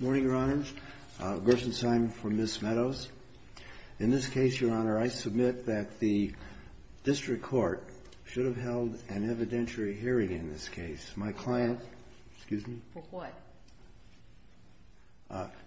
Morning, Your Honor. Gerson Simon for Ms. Meadows. In this case, Your Honor, I submit that the district court should have held an evidentiary hearing in this case. My client... Excuse me? For what?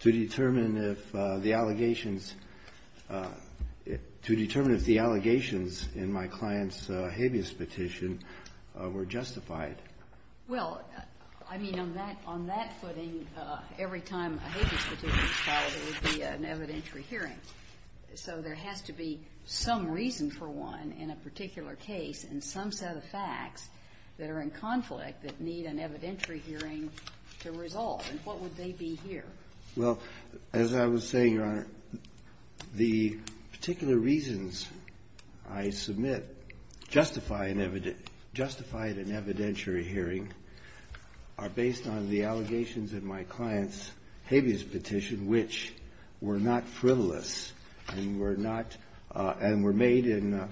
To determine if the allegations... to determine if the allegations in my client's habeas petition were justified. Well, I mean, on that footing, every time a habeas petition is filed, it would be an evidentiary hearing. So there has to be some reason for one in a particular case and some set of facts that are in conflict that need an evidentiary hearing to resolve. And what would they be here? Well, as I was saying, Your Honor, the particular reasons I submit justify an evidentiary hearing are based on the allegations in my client's habeas petition, which were not frivolous and were not... and were made in...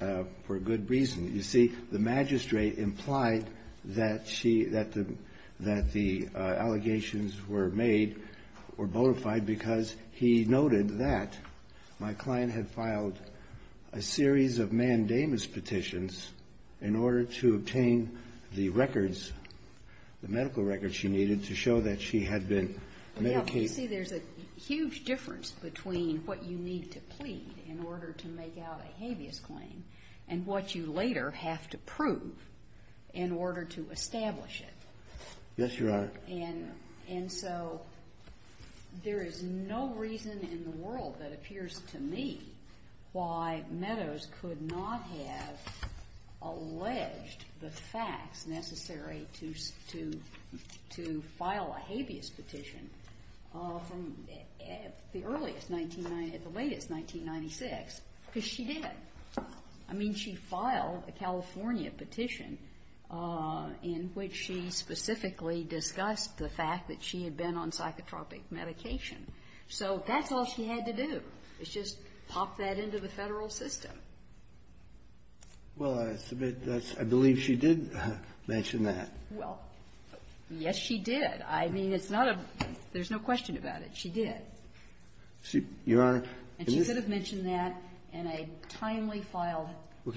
for good reason. You see, the magistrate implied that she... that the allegations were made or bona fide because he noted that my client had filed a series of mandamus petitions in order to obtain the records, the medical records she needed to show that she had been medicated. You see, there's a huge difference between what you need to plead in order to make out a habeas claim and what you later have to prove in order to establish it. Yes, Your Honor. And so there is no reason in the world that appears to me why Meadows could not have alleged the facts necessary to file a habeas petition from the earliest... Because she did. I mean, she filed a California petition in which she specifically discussed the fact that she had been on psychotropic medication. So that's all she had to do, is just pop that into the Federal system. Well, I submit that's... I believe she did mention that. Well, yes, she did. I mean, it's not a... there's no question about it. She did. She... Your Honor... And she should have mentioned that in a timely filed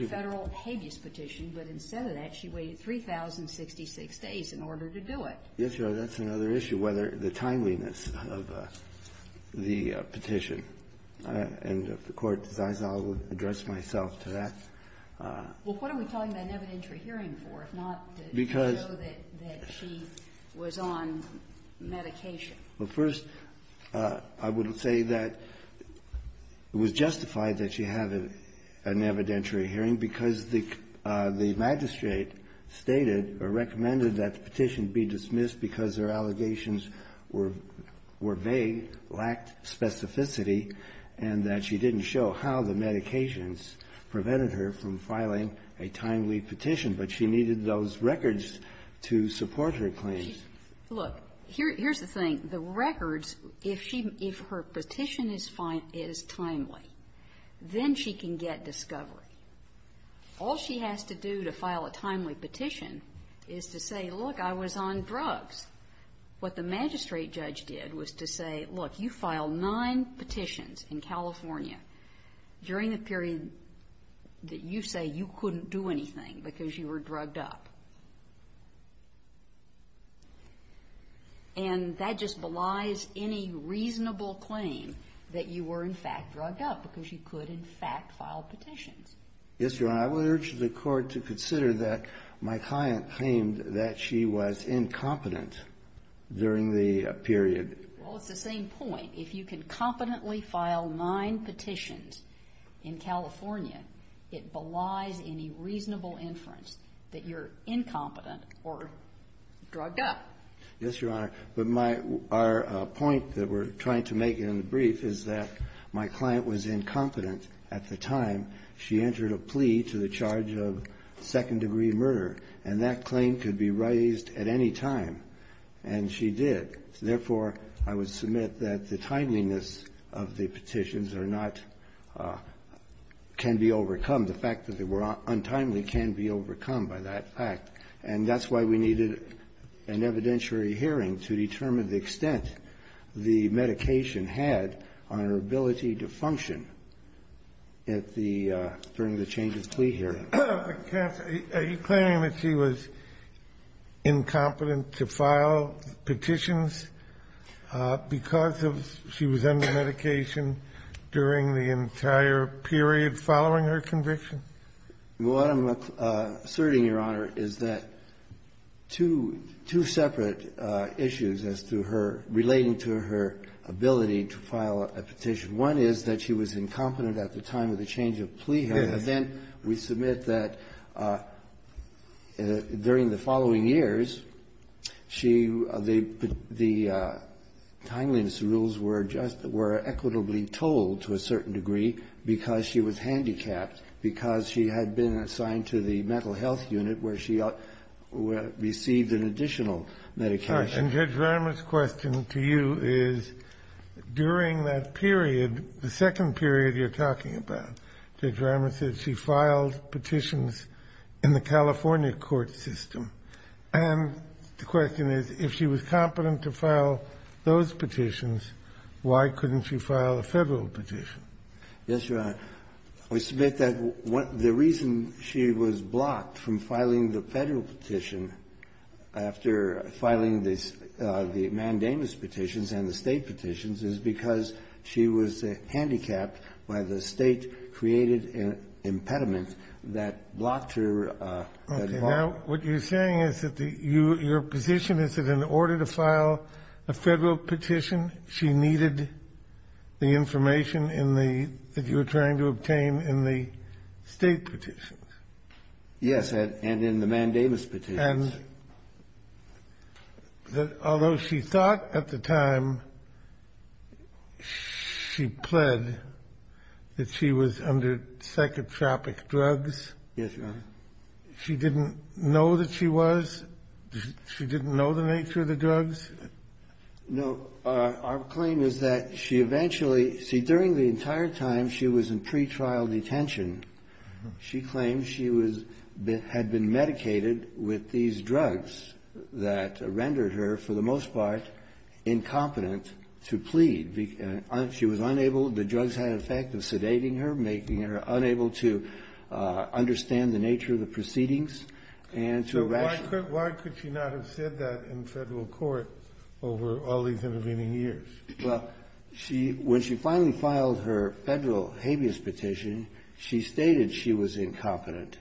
Federal habeas petition, but instead of that, she waited 3,066 days in order to do it. Yes, Your Honor. That's another issue, whether the timeliness of the petition. And if the Court decides I'll address myself to that. Well, what are we talking about an evidentiary hearing for, if not to show that she was on medication? Well, first, I would say that it was justified that she have an evidentiary hearing because the magistrate stated or recommended that the petition be dismissed because her allegations were vague, lacked specificity, and that she didn't show how the medications prevented her from filing a timely petition. But she needed those records to support her claims. Look, here's the thing. The records, if she... if her petition is timely, then she can get discovery. All she has to do to file a timely petition is to say, look, I was on drugs. What the magistrate judge did was to say, look, you filed nine petitions in California during the period that you say you couldn't do anything because you were drugged up. And that just belies any reasonable claim that you were, in fact, drugged up because you could, in fact, file petitions. Yes, Your Honor. I would urge the Court to consider that my client claimed that she was incompetent during the period. Well, it's the same point. If you can competently file nine petitions in California, it belies any reasonable inference that you're incompetent or drugged up. Yes, Your Honor. But my — our point that we're trying to make in the brief is that my client was incompetent at the time she entered a plea to the charge of second-degree murder. And that claim could be raised at any time, and she did. Therefore, I would submit that the timeliness of the petitions are not — can be overcome. The fact that they were untimely can be overcome by that fact. And that's why we needed an evidentiary hearing to determine the extent the medication had on her ability to function at the — during the change-of-plea hearing. Are you claiming that she was incompetent to file petitions because of — she was under medication during the entire period following her conviction? Well, what I'm asserting, Your Honor, is that two — two separate issues as to her — relating to her ability to file a petition. One is that she was incompetent at the time of the change-of-plea hearing. And then we submit that during the following years, she — the timeliness rules were just — were equitably told, to a certain degree, because she was handicapped, because she had been assigned to the mental health unit where she received an additional medication. And Judge Ramer's question to you is, during that period, the second period you're talking about, Judge Ramer said she filed petitions in the California court system. And the question is, if she was competent to file those petitions, why couldn't she file a Federal petition? Yes, Your Honor. We submit that the reason she was blocked from filing the Federal petition after filing the mandamus petitions and the State petitions is because she was handicapped by the State-created impediment that blocked her at the time. Okay. Now, what you're saying is that the — your position is that in order to file a Federal petition, she needed the information in the — that you were trying to obtain in the State petitions? Yes. And in the mandamus petitions. And that although she thought at the time she pled that she was under psychotropic drugs — Yes, Your Honor. She didn't know that she was? She didn't know the nature of the drugs? No. Our claim is that she eventually — see, during the entire time she was in pretrial detention, she claimed she was — had been medicated with these drugs that rendered her, for the most part, incompetent to plead. She was unable — the drugs had an effect of sedating her, making her unable to understand the nature of the proceedings, and to rationalize them. So why could she not have said that in Federal court over all these intervening years? Well, she — when she finally filed her Federal habeas petition, she stated she was incompetent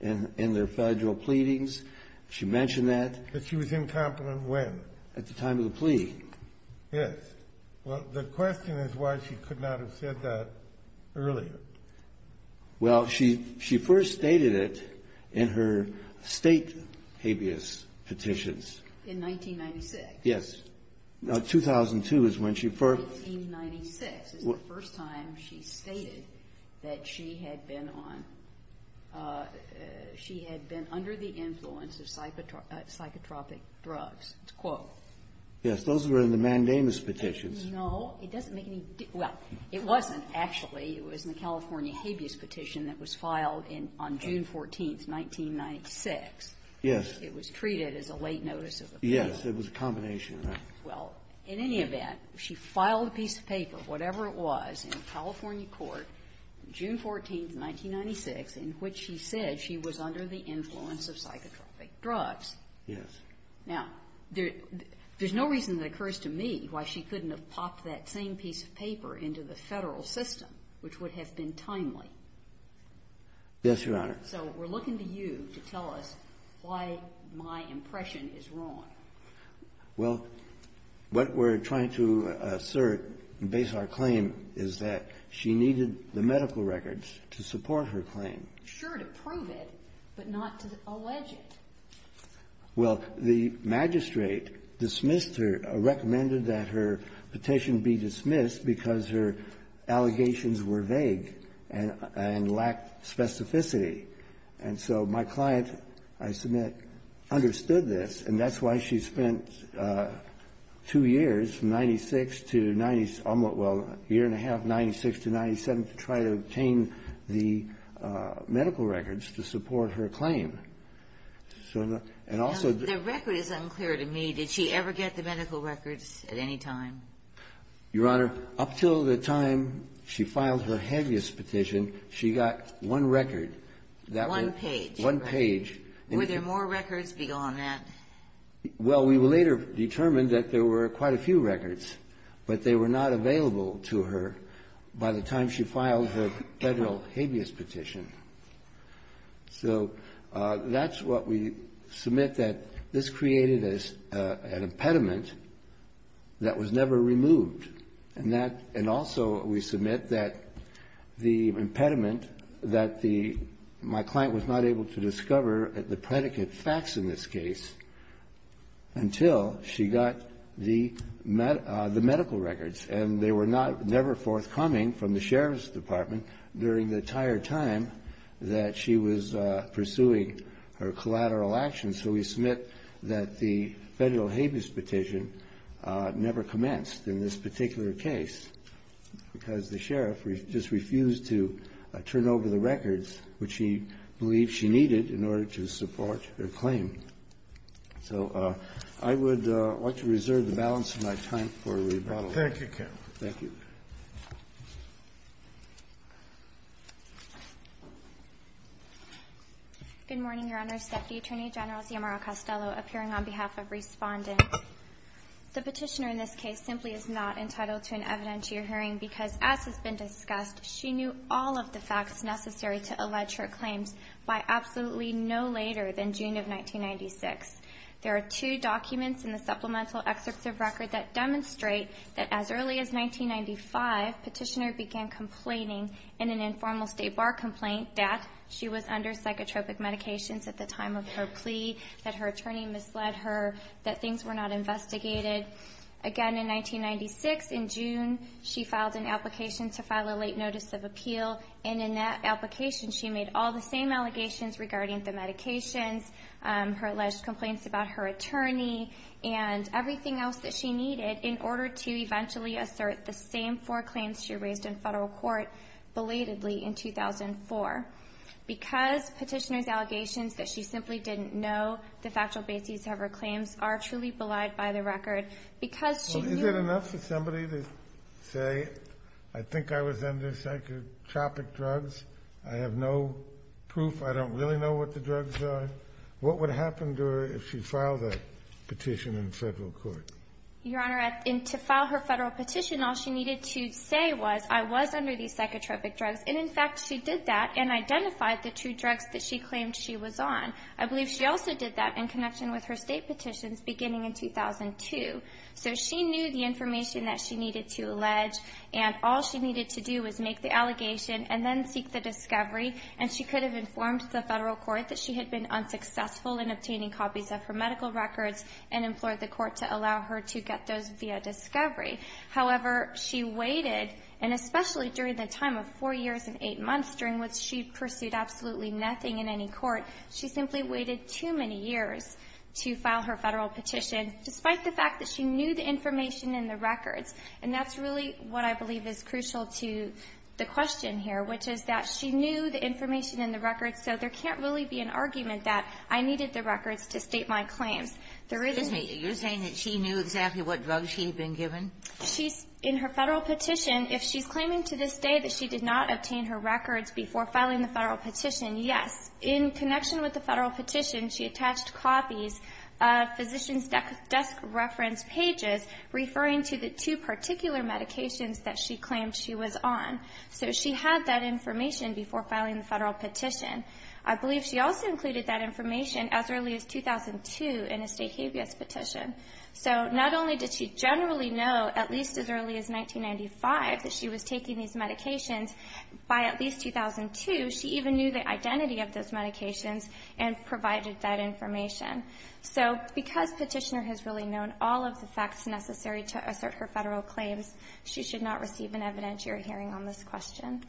in their Federal pleadings. She mentioned that. But she was incompetent when? At the time of the plea. Yes. Well, the question is why she could not have said that earlier. Well, she — she first stated it in her State habeas petitions. In 1996? Yes. 2002 is when she first — 1996 is the first time she stated that she had been on — she had been under the influence of psychotropic drugs. It's a quote. Yes. Those were in the mandamus petitions. No. It doesn't make any — well, it wasn't, actually. It was in the California habeas petition that was filed in — on June 14th, 1996. Yes. It was treated as a late notice of appeal. Yes. It was a combination of that. Well, in any event, she filed a piece of paper, whatever it was, in California court, June 14th, 1996, in which she said she was under the influence of psychotropic drugs. Yes. Now, there's no reason that occurs to me why she couldn't have popped that same piece of paper into the Federal system, which would have been timely. Yes, Your Honor. So we're looking to you to tell us why my impression is wrong. Well, what we're trying to assert and base our claim is that she needed the medical records to support her claim. Sure, to prove it, but not to allege it. Well, the magistrate dismissed her, recommended that her petition be dismissed because her allegations were vague and lacked specificity. And so my client, I submit, understood this, and that's why she spent two years, 96 to 90 — almost, well, a year and a half, 96 to 97, to try to obtain the medical records to support her claim. And also the — The record is unclear to me. Did she ever get the medical records at any time? Your Honor, up until the time she filed her habeas petition, she got one record. One page. One page. Were there more records beyond that? Well, we later determined that there were quite a few records, but they were not available to her by the time she filed her Federal habeas petition. So that's what we submit, that this created an impediment that was never removed. And that — and also we submit that the impediment, that the — my client was not able to discover the predicate facts in this case until she got the medical records. And they were not — never forthcoming from the Sheriff's Department during the entire time that she was pursuing her collateral actions. So we submit that the Federal habeas petition never commenced in this particular case because the Sheriff just refused to turn over the records which she believed she needed in order to support her claim. So I would like to reserve the balance of my time for rebuttal. Thank you, counsel. Thank you. Good morning, Your Honors. Deputy Attorney General Xiomara Castello appearing on behalf of Respondent. The petitioner in this case simply is not entitled to an evidentiary hearing because, as has been discussed, she knew all of the facts necessary to allege her claims by absolutely no later than June of 1996. There are two documents in the supplemental excerpts of record that demonstrate that as early as 1995, petitioner began complaining in an informal state bar complaint that she was under psychotropic medications at the time of her plea, that her attorney misled her, that things were not investigated. Again, in 1996, in June, she filed an application to file a late notice of appeal. And in that application, she made all the same allegations regarding the medications, her alleged complaints about her attorney and everything else that she needed in order to eventually assert the same four claims she raised in federal court belatedly in 2004. Because petitioner's allegations that she simply didn't know the factual basis of her claims are truly belied by the record, because she knew the facts necessary to allege her claims. Is it enough for somebody to say, I think I was under psychotropic drugs, I have no proof, I don't really know what the drugs are? What would happen to her if she filed that petition in federal court? Your Honor, to file her federal petition, all she needed to say was, I was under these psychotropic drugs, and in fact, she did that and identified the two drugs that she claimed she was on. I believe she also did that in connection with her state petitions beginning in 2002. So she knew the information that she needed to allege, and all she needed to do was make the allegation and then seek the discovery, and she could have informed the federal court that she had been unsuccessful in obtaining copies of her medical records and implored the court to allow her to get those via discovery. However, she waited, and especially during the time of four years and eight months, during which she pursued absolutely nothing in any court, she simply waited too many years to file her federal petition, despite the fact that she knew the information in the records. And that's really what I believe is crucial to the question here, which is that she knew the information in the records, so there can't really be an argument that I needed the records to state my claims. There really isn't. Ginsburg-Masey, you're saying that she knew exactly what drugs she had been given? She's – in her federal petition, if she's claiming to this day that she did not obtain her records before filing the federal petition, yes. In connection with the federal petition, she attached copies of physician's desk reference pages referring to the two particular medications that she claimed she was on. So she had that information before filing the federal petition. I believe she also included that information as early as 2002 in a state habeas petition. So not only did she generally know, at least as early as 1995, that she was taking these medications, by at least 2002, she even knew the identity of those medications and provided that information. So because Petitioner has really known all of the facts necessary to assert her federal claims, she should not receive an evidentiary hearing on this question.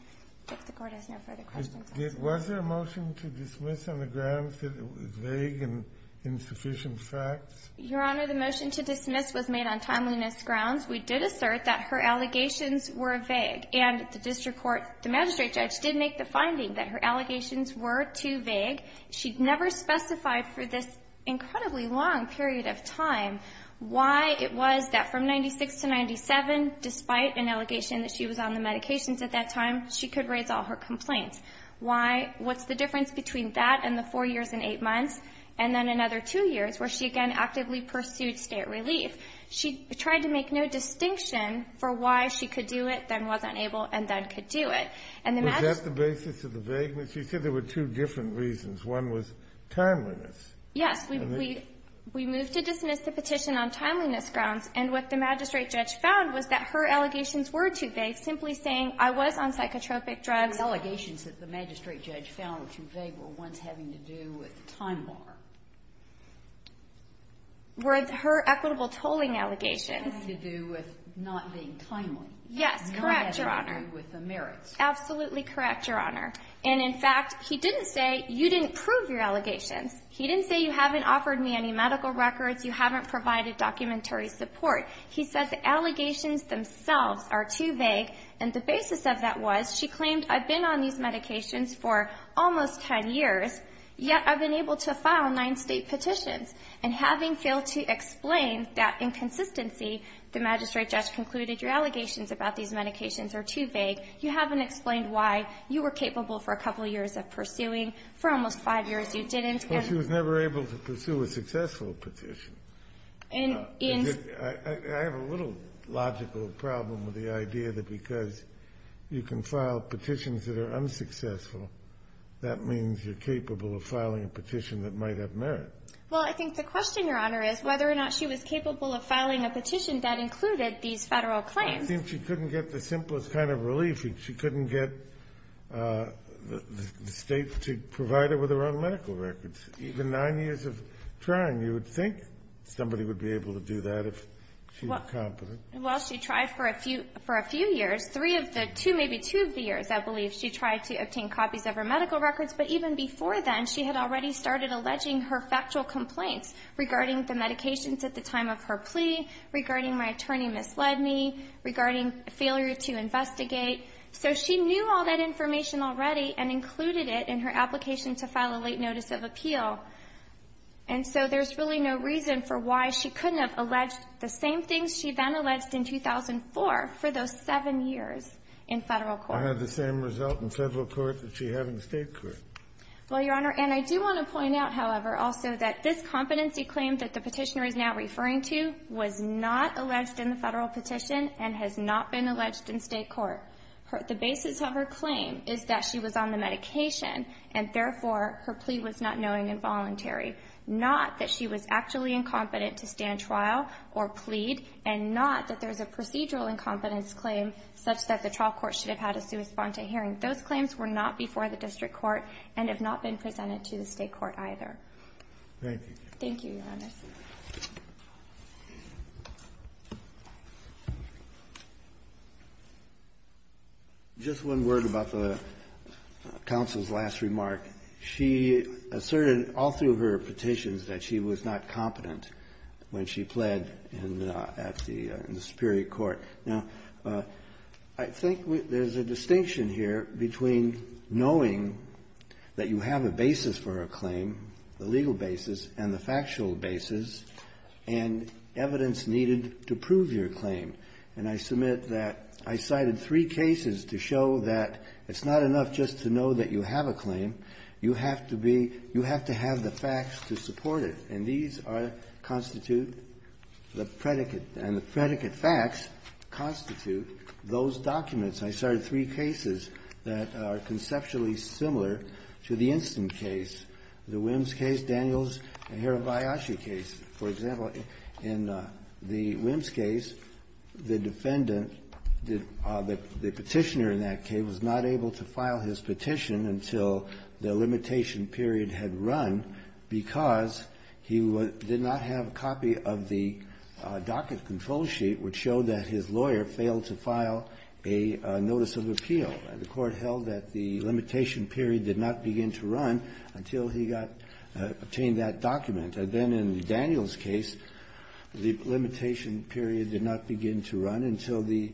If the Court has no further questions, please. Was there a motion to dismiss on the grounds that it was vague and insufficient facts? Your Honor, the motion to dismiss was made on timeliness grounds. We did assert that her allegations were vague. And the district court, the magistrate judge, did make the finding that her allegations were too vague. She never specified for this incredibly long period of time why it was that from 1996 to 1997, despite an allegation that she was on the medications at that time, she could raise all her complaints. Why? What's the difference between that and the four years and eight months, and then another two years, where she again actively pursued state relief? She tried to make no distinction for why she could do it, then wasn't able, and then could do it. And the magistrate judge found that her allegations were too vague, simply saying, I was on psychotropic drugs. Yes. We moved to dismiss the petition on timeliness grounds. And what the magistrate judge found was that her allegations were too vague, simply saying, I was on psychotropic drugs. And the allegations that the magistrate judge found were too vague were ones having to do with the time bar. Were her equitable tolling allegations. Had to do with not being timely. Yes, correct, Your Honor. Not having to do with the merits. Absolutely correct, Your Honor. And in fact, he didn't say, you didn't prove your allegations. He didn't say, you haven't offered me any medical records. You haven't provided documentary support. He said the allegations themselves are too vague. And the basis of that was she claimed, I've been on these medications for almost 10 years, yet I've been able to file nine State petitions. And having failed to explain that inconsistency, the magistrate judge concluded your allegations about these medications are too vague. You haven't explained why you were capable for a couple of years of pursuing. For almost five years, you didn't. Well, she was never able to pursue a successful petition. And in the I have a little logical problem with the idea that because you can file petitions that are unsuccessful, that means you're capable of filing a petition that might have merit. Well, I think the question, Your Honor, is whether or not she was capable of filing a petition that included these Federal claims. I think she couldn't get the simplest kind of relief. She couldn't get the State to provide her with her own medical records. Even nine years of trying, you would think somebody would be able to do that if she was competent. Well, she tried for a few years. Three of the two, maybe two of the years, I believe, she tried to obtain copies of her medical records. But even before then, she had already started alleging her factual complaints regarding the medications at the time of her plea, regarding my attorney misled me, regarding failure to investigate. So she knew all that information already and included it in her application to file the late notice of appeal. And so there's really no reason for why she couldn't have alleged the same things she then alleged in 2004 for those seven years in Federal court. I had the same result in Federal court that she had in the State court. Well, Your Honor, and I do want to point out, however, also that this competency claim that the Petitioner is now referring to was not alleged in the Federal petition and has not been alleged in State court. The basis of her claim is that she was on the medication, and therefore, her plea was not knowing and voluntary, not that she was actually incompetent to stand trial or plead, and not that there's a procedural incompetence claim such that the trial court should have had a sui sponte hearing. Those claims were not before the District court and have not been presented to the State court either. Thank you, Your Honor. Just one word about the counsel's last remark. She asserted all through her petitions that she was not competent when she pled in the at the Superior Court. Now, I think there's a distinction here between knowing that you have a basis for a claim, the legal basis, and the factual basis, and evidence needed to prove your claim. And I submit that I cited three cases to show that it's not enough just to know that you have a claim. You have to be you have to have the facts to support it. And these are constitute the predicate. And the predicate facts constitute those documents. I cited three cases that are conceptually similar to the instant case, the Wims case, Daniels, and Hirabayashi case. For example, in the Wims case, the defendant did the Petitioner in that case was not able to file his petition until the limitation period had run because he did not have a copy of the docket control sheet which showed that his lawyer failed to file a notice of appeal. And the Court held that the limitation period did not begin to run until he got to obtain that document. And then in Daniels' case, the limitation period did not begin to run until the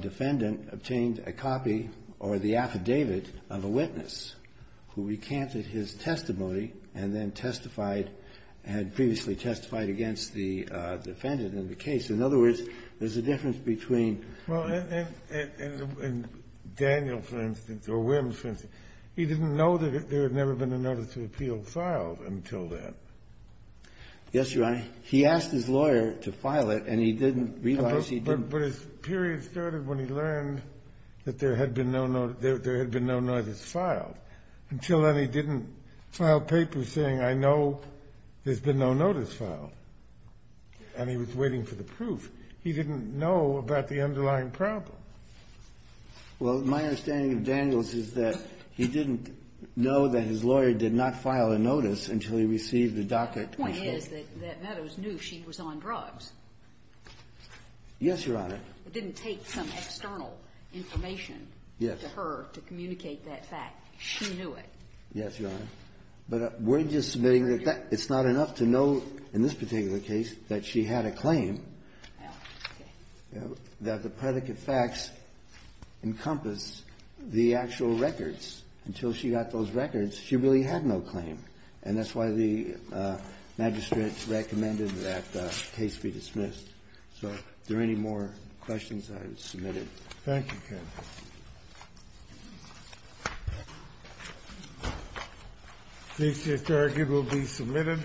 defendant obtained a copy or the affidavit of a witness who recanted his testimony and then testified, had previously testified against the defendant in the case. In other words, there's a difference between the two. Kennedy, and Daniels, for instance, or Wims, for instance, he didn't know that there had never been a notice of appeal filed until then. Yes, Your Honor. He asked his lawyer to file it, and he didn't realize he didn't. But his period started when he learned that there had been no notice filed. Until then, he didn't file papers saying, I know there's been no notice filed. And he was waiting for the proof. He didn't know about the underlying problem. Well, my understanding of Daniels is that he didn't know that his lawyer did not file a notice until he received the docket. The point is that Meadows knew she was on drugs. Yes, Your Honor. It didn't take some external information to her to communicate that fact. She knew it. Yes, Your Honor. But we're just submitting that it's not enough to know in this particular case that she had a claim, that the predicate facts encompass the actual records. Until she got those records, she really had no claim. And that's why the magistrate recommended that the case be dismissed. So are there any more questions that I have submitted? Thank you, Kennedy. Thank you. The seizure docket will be submitted.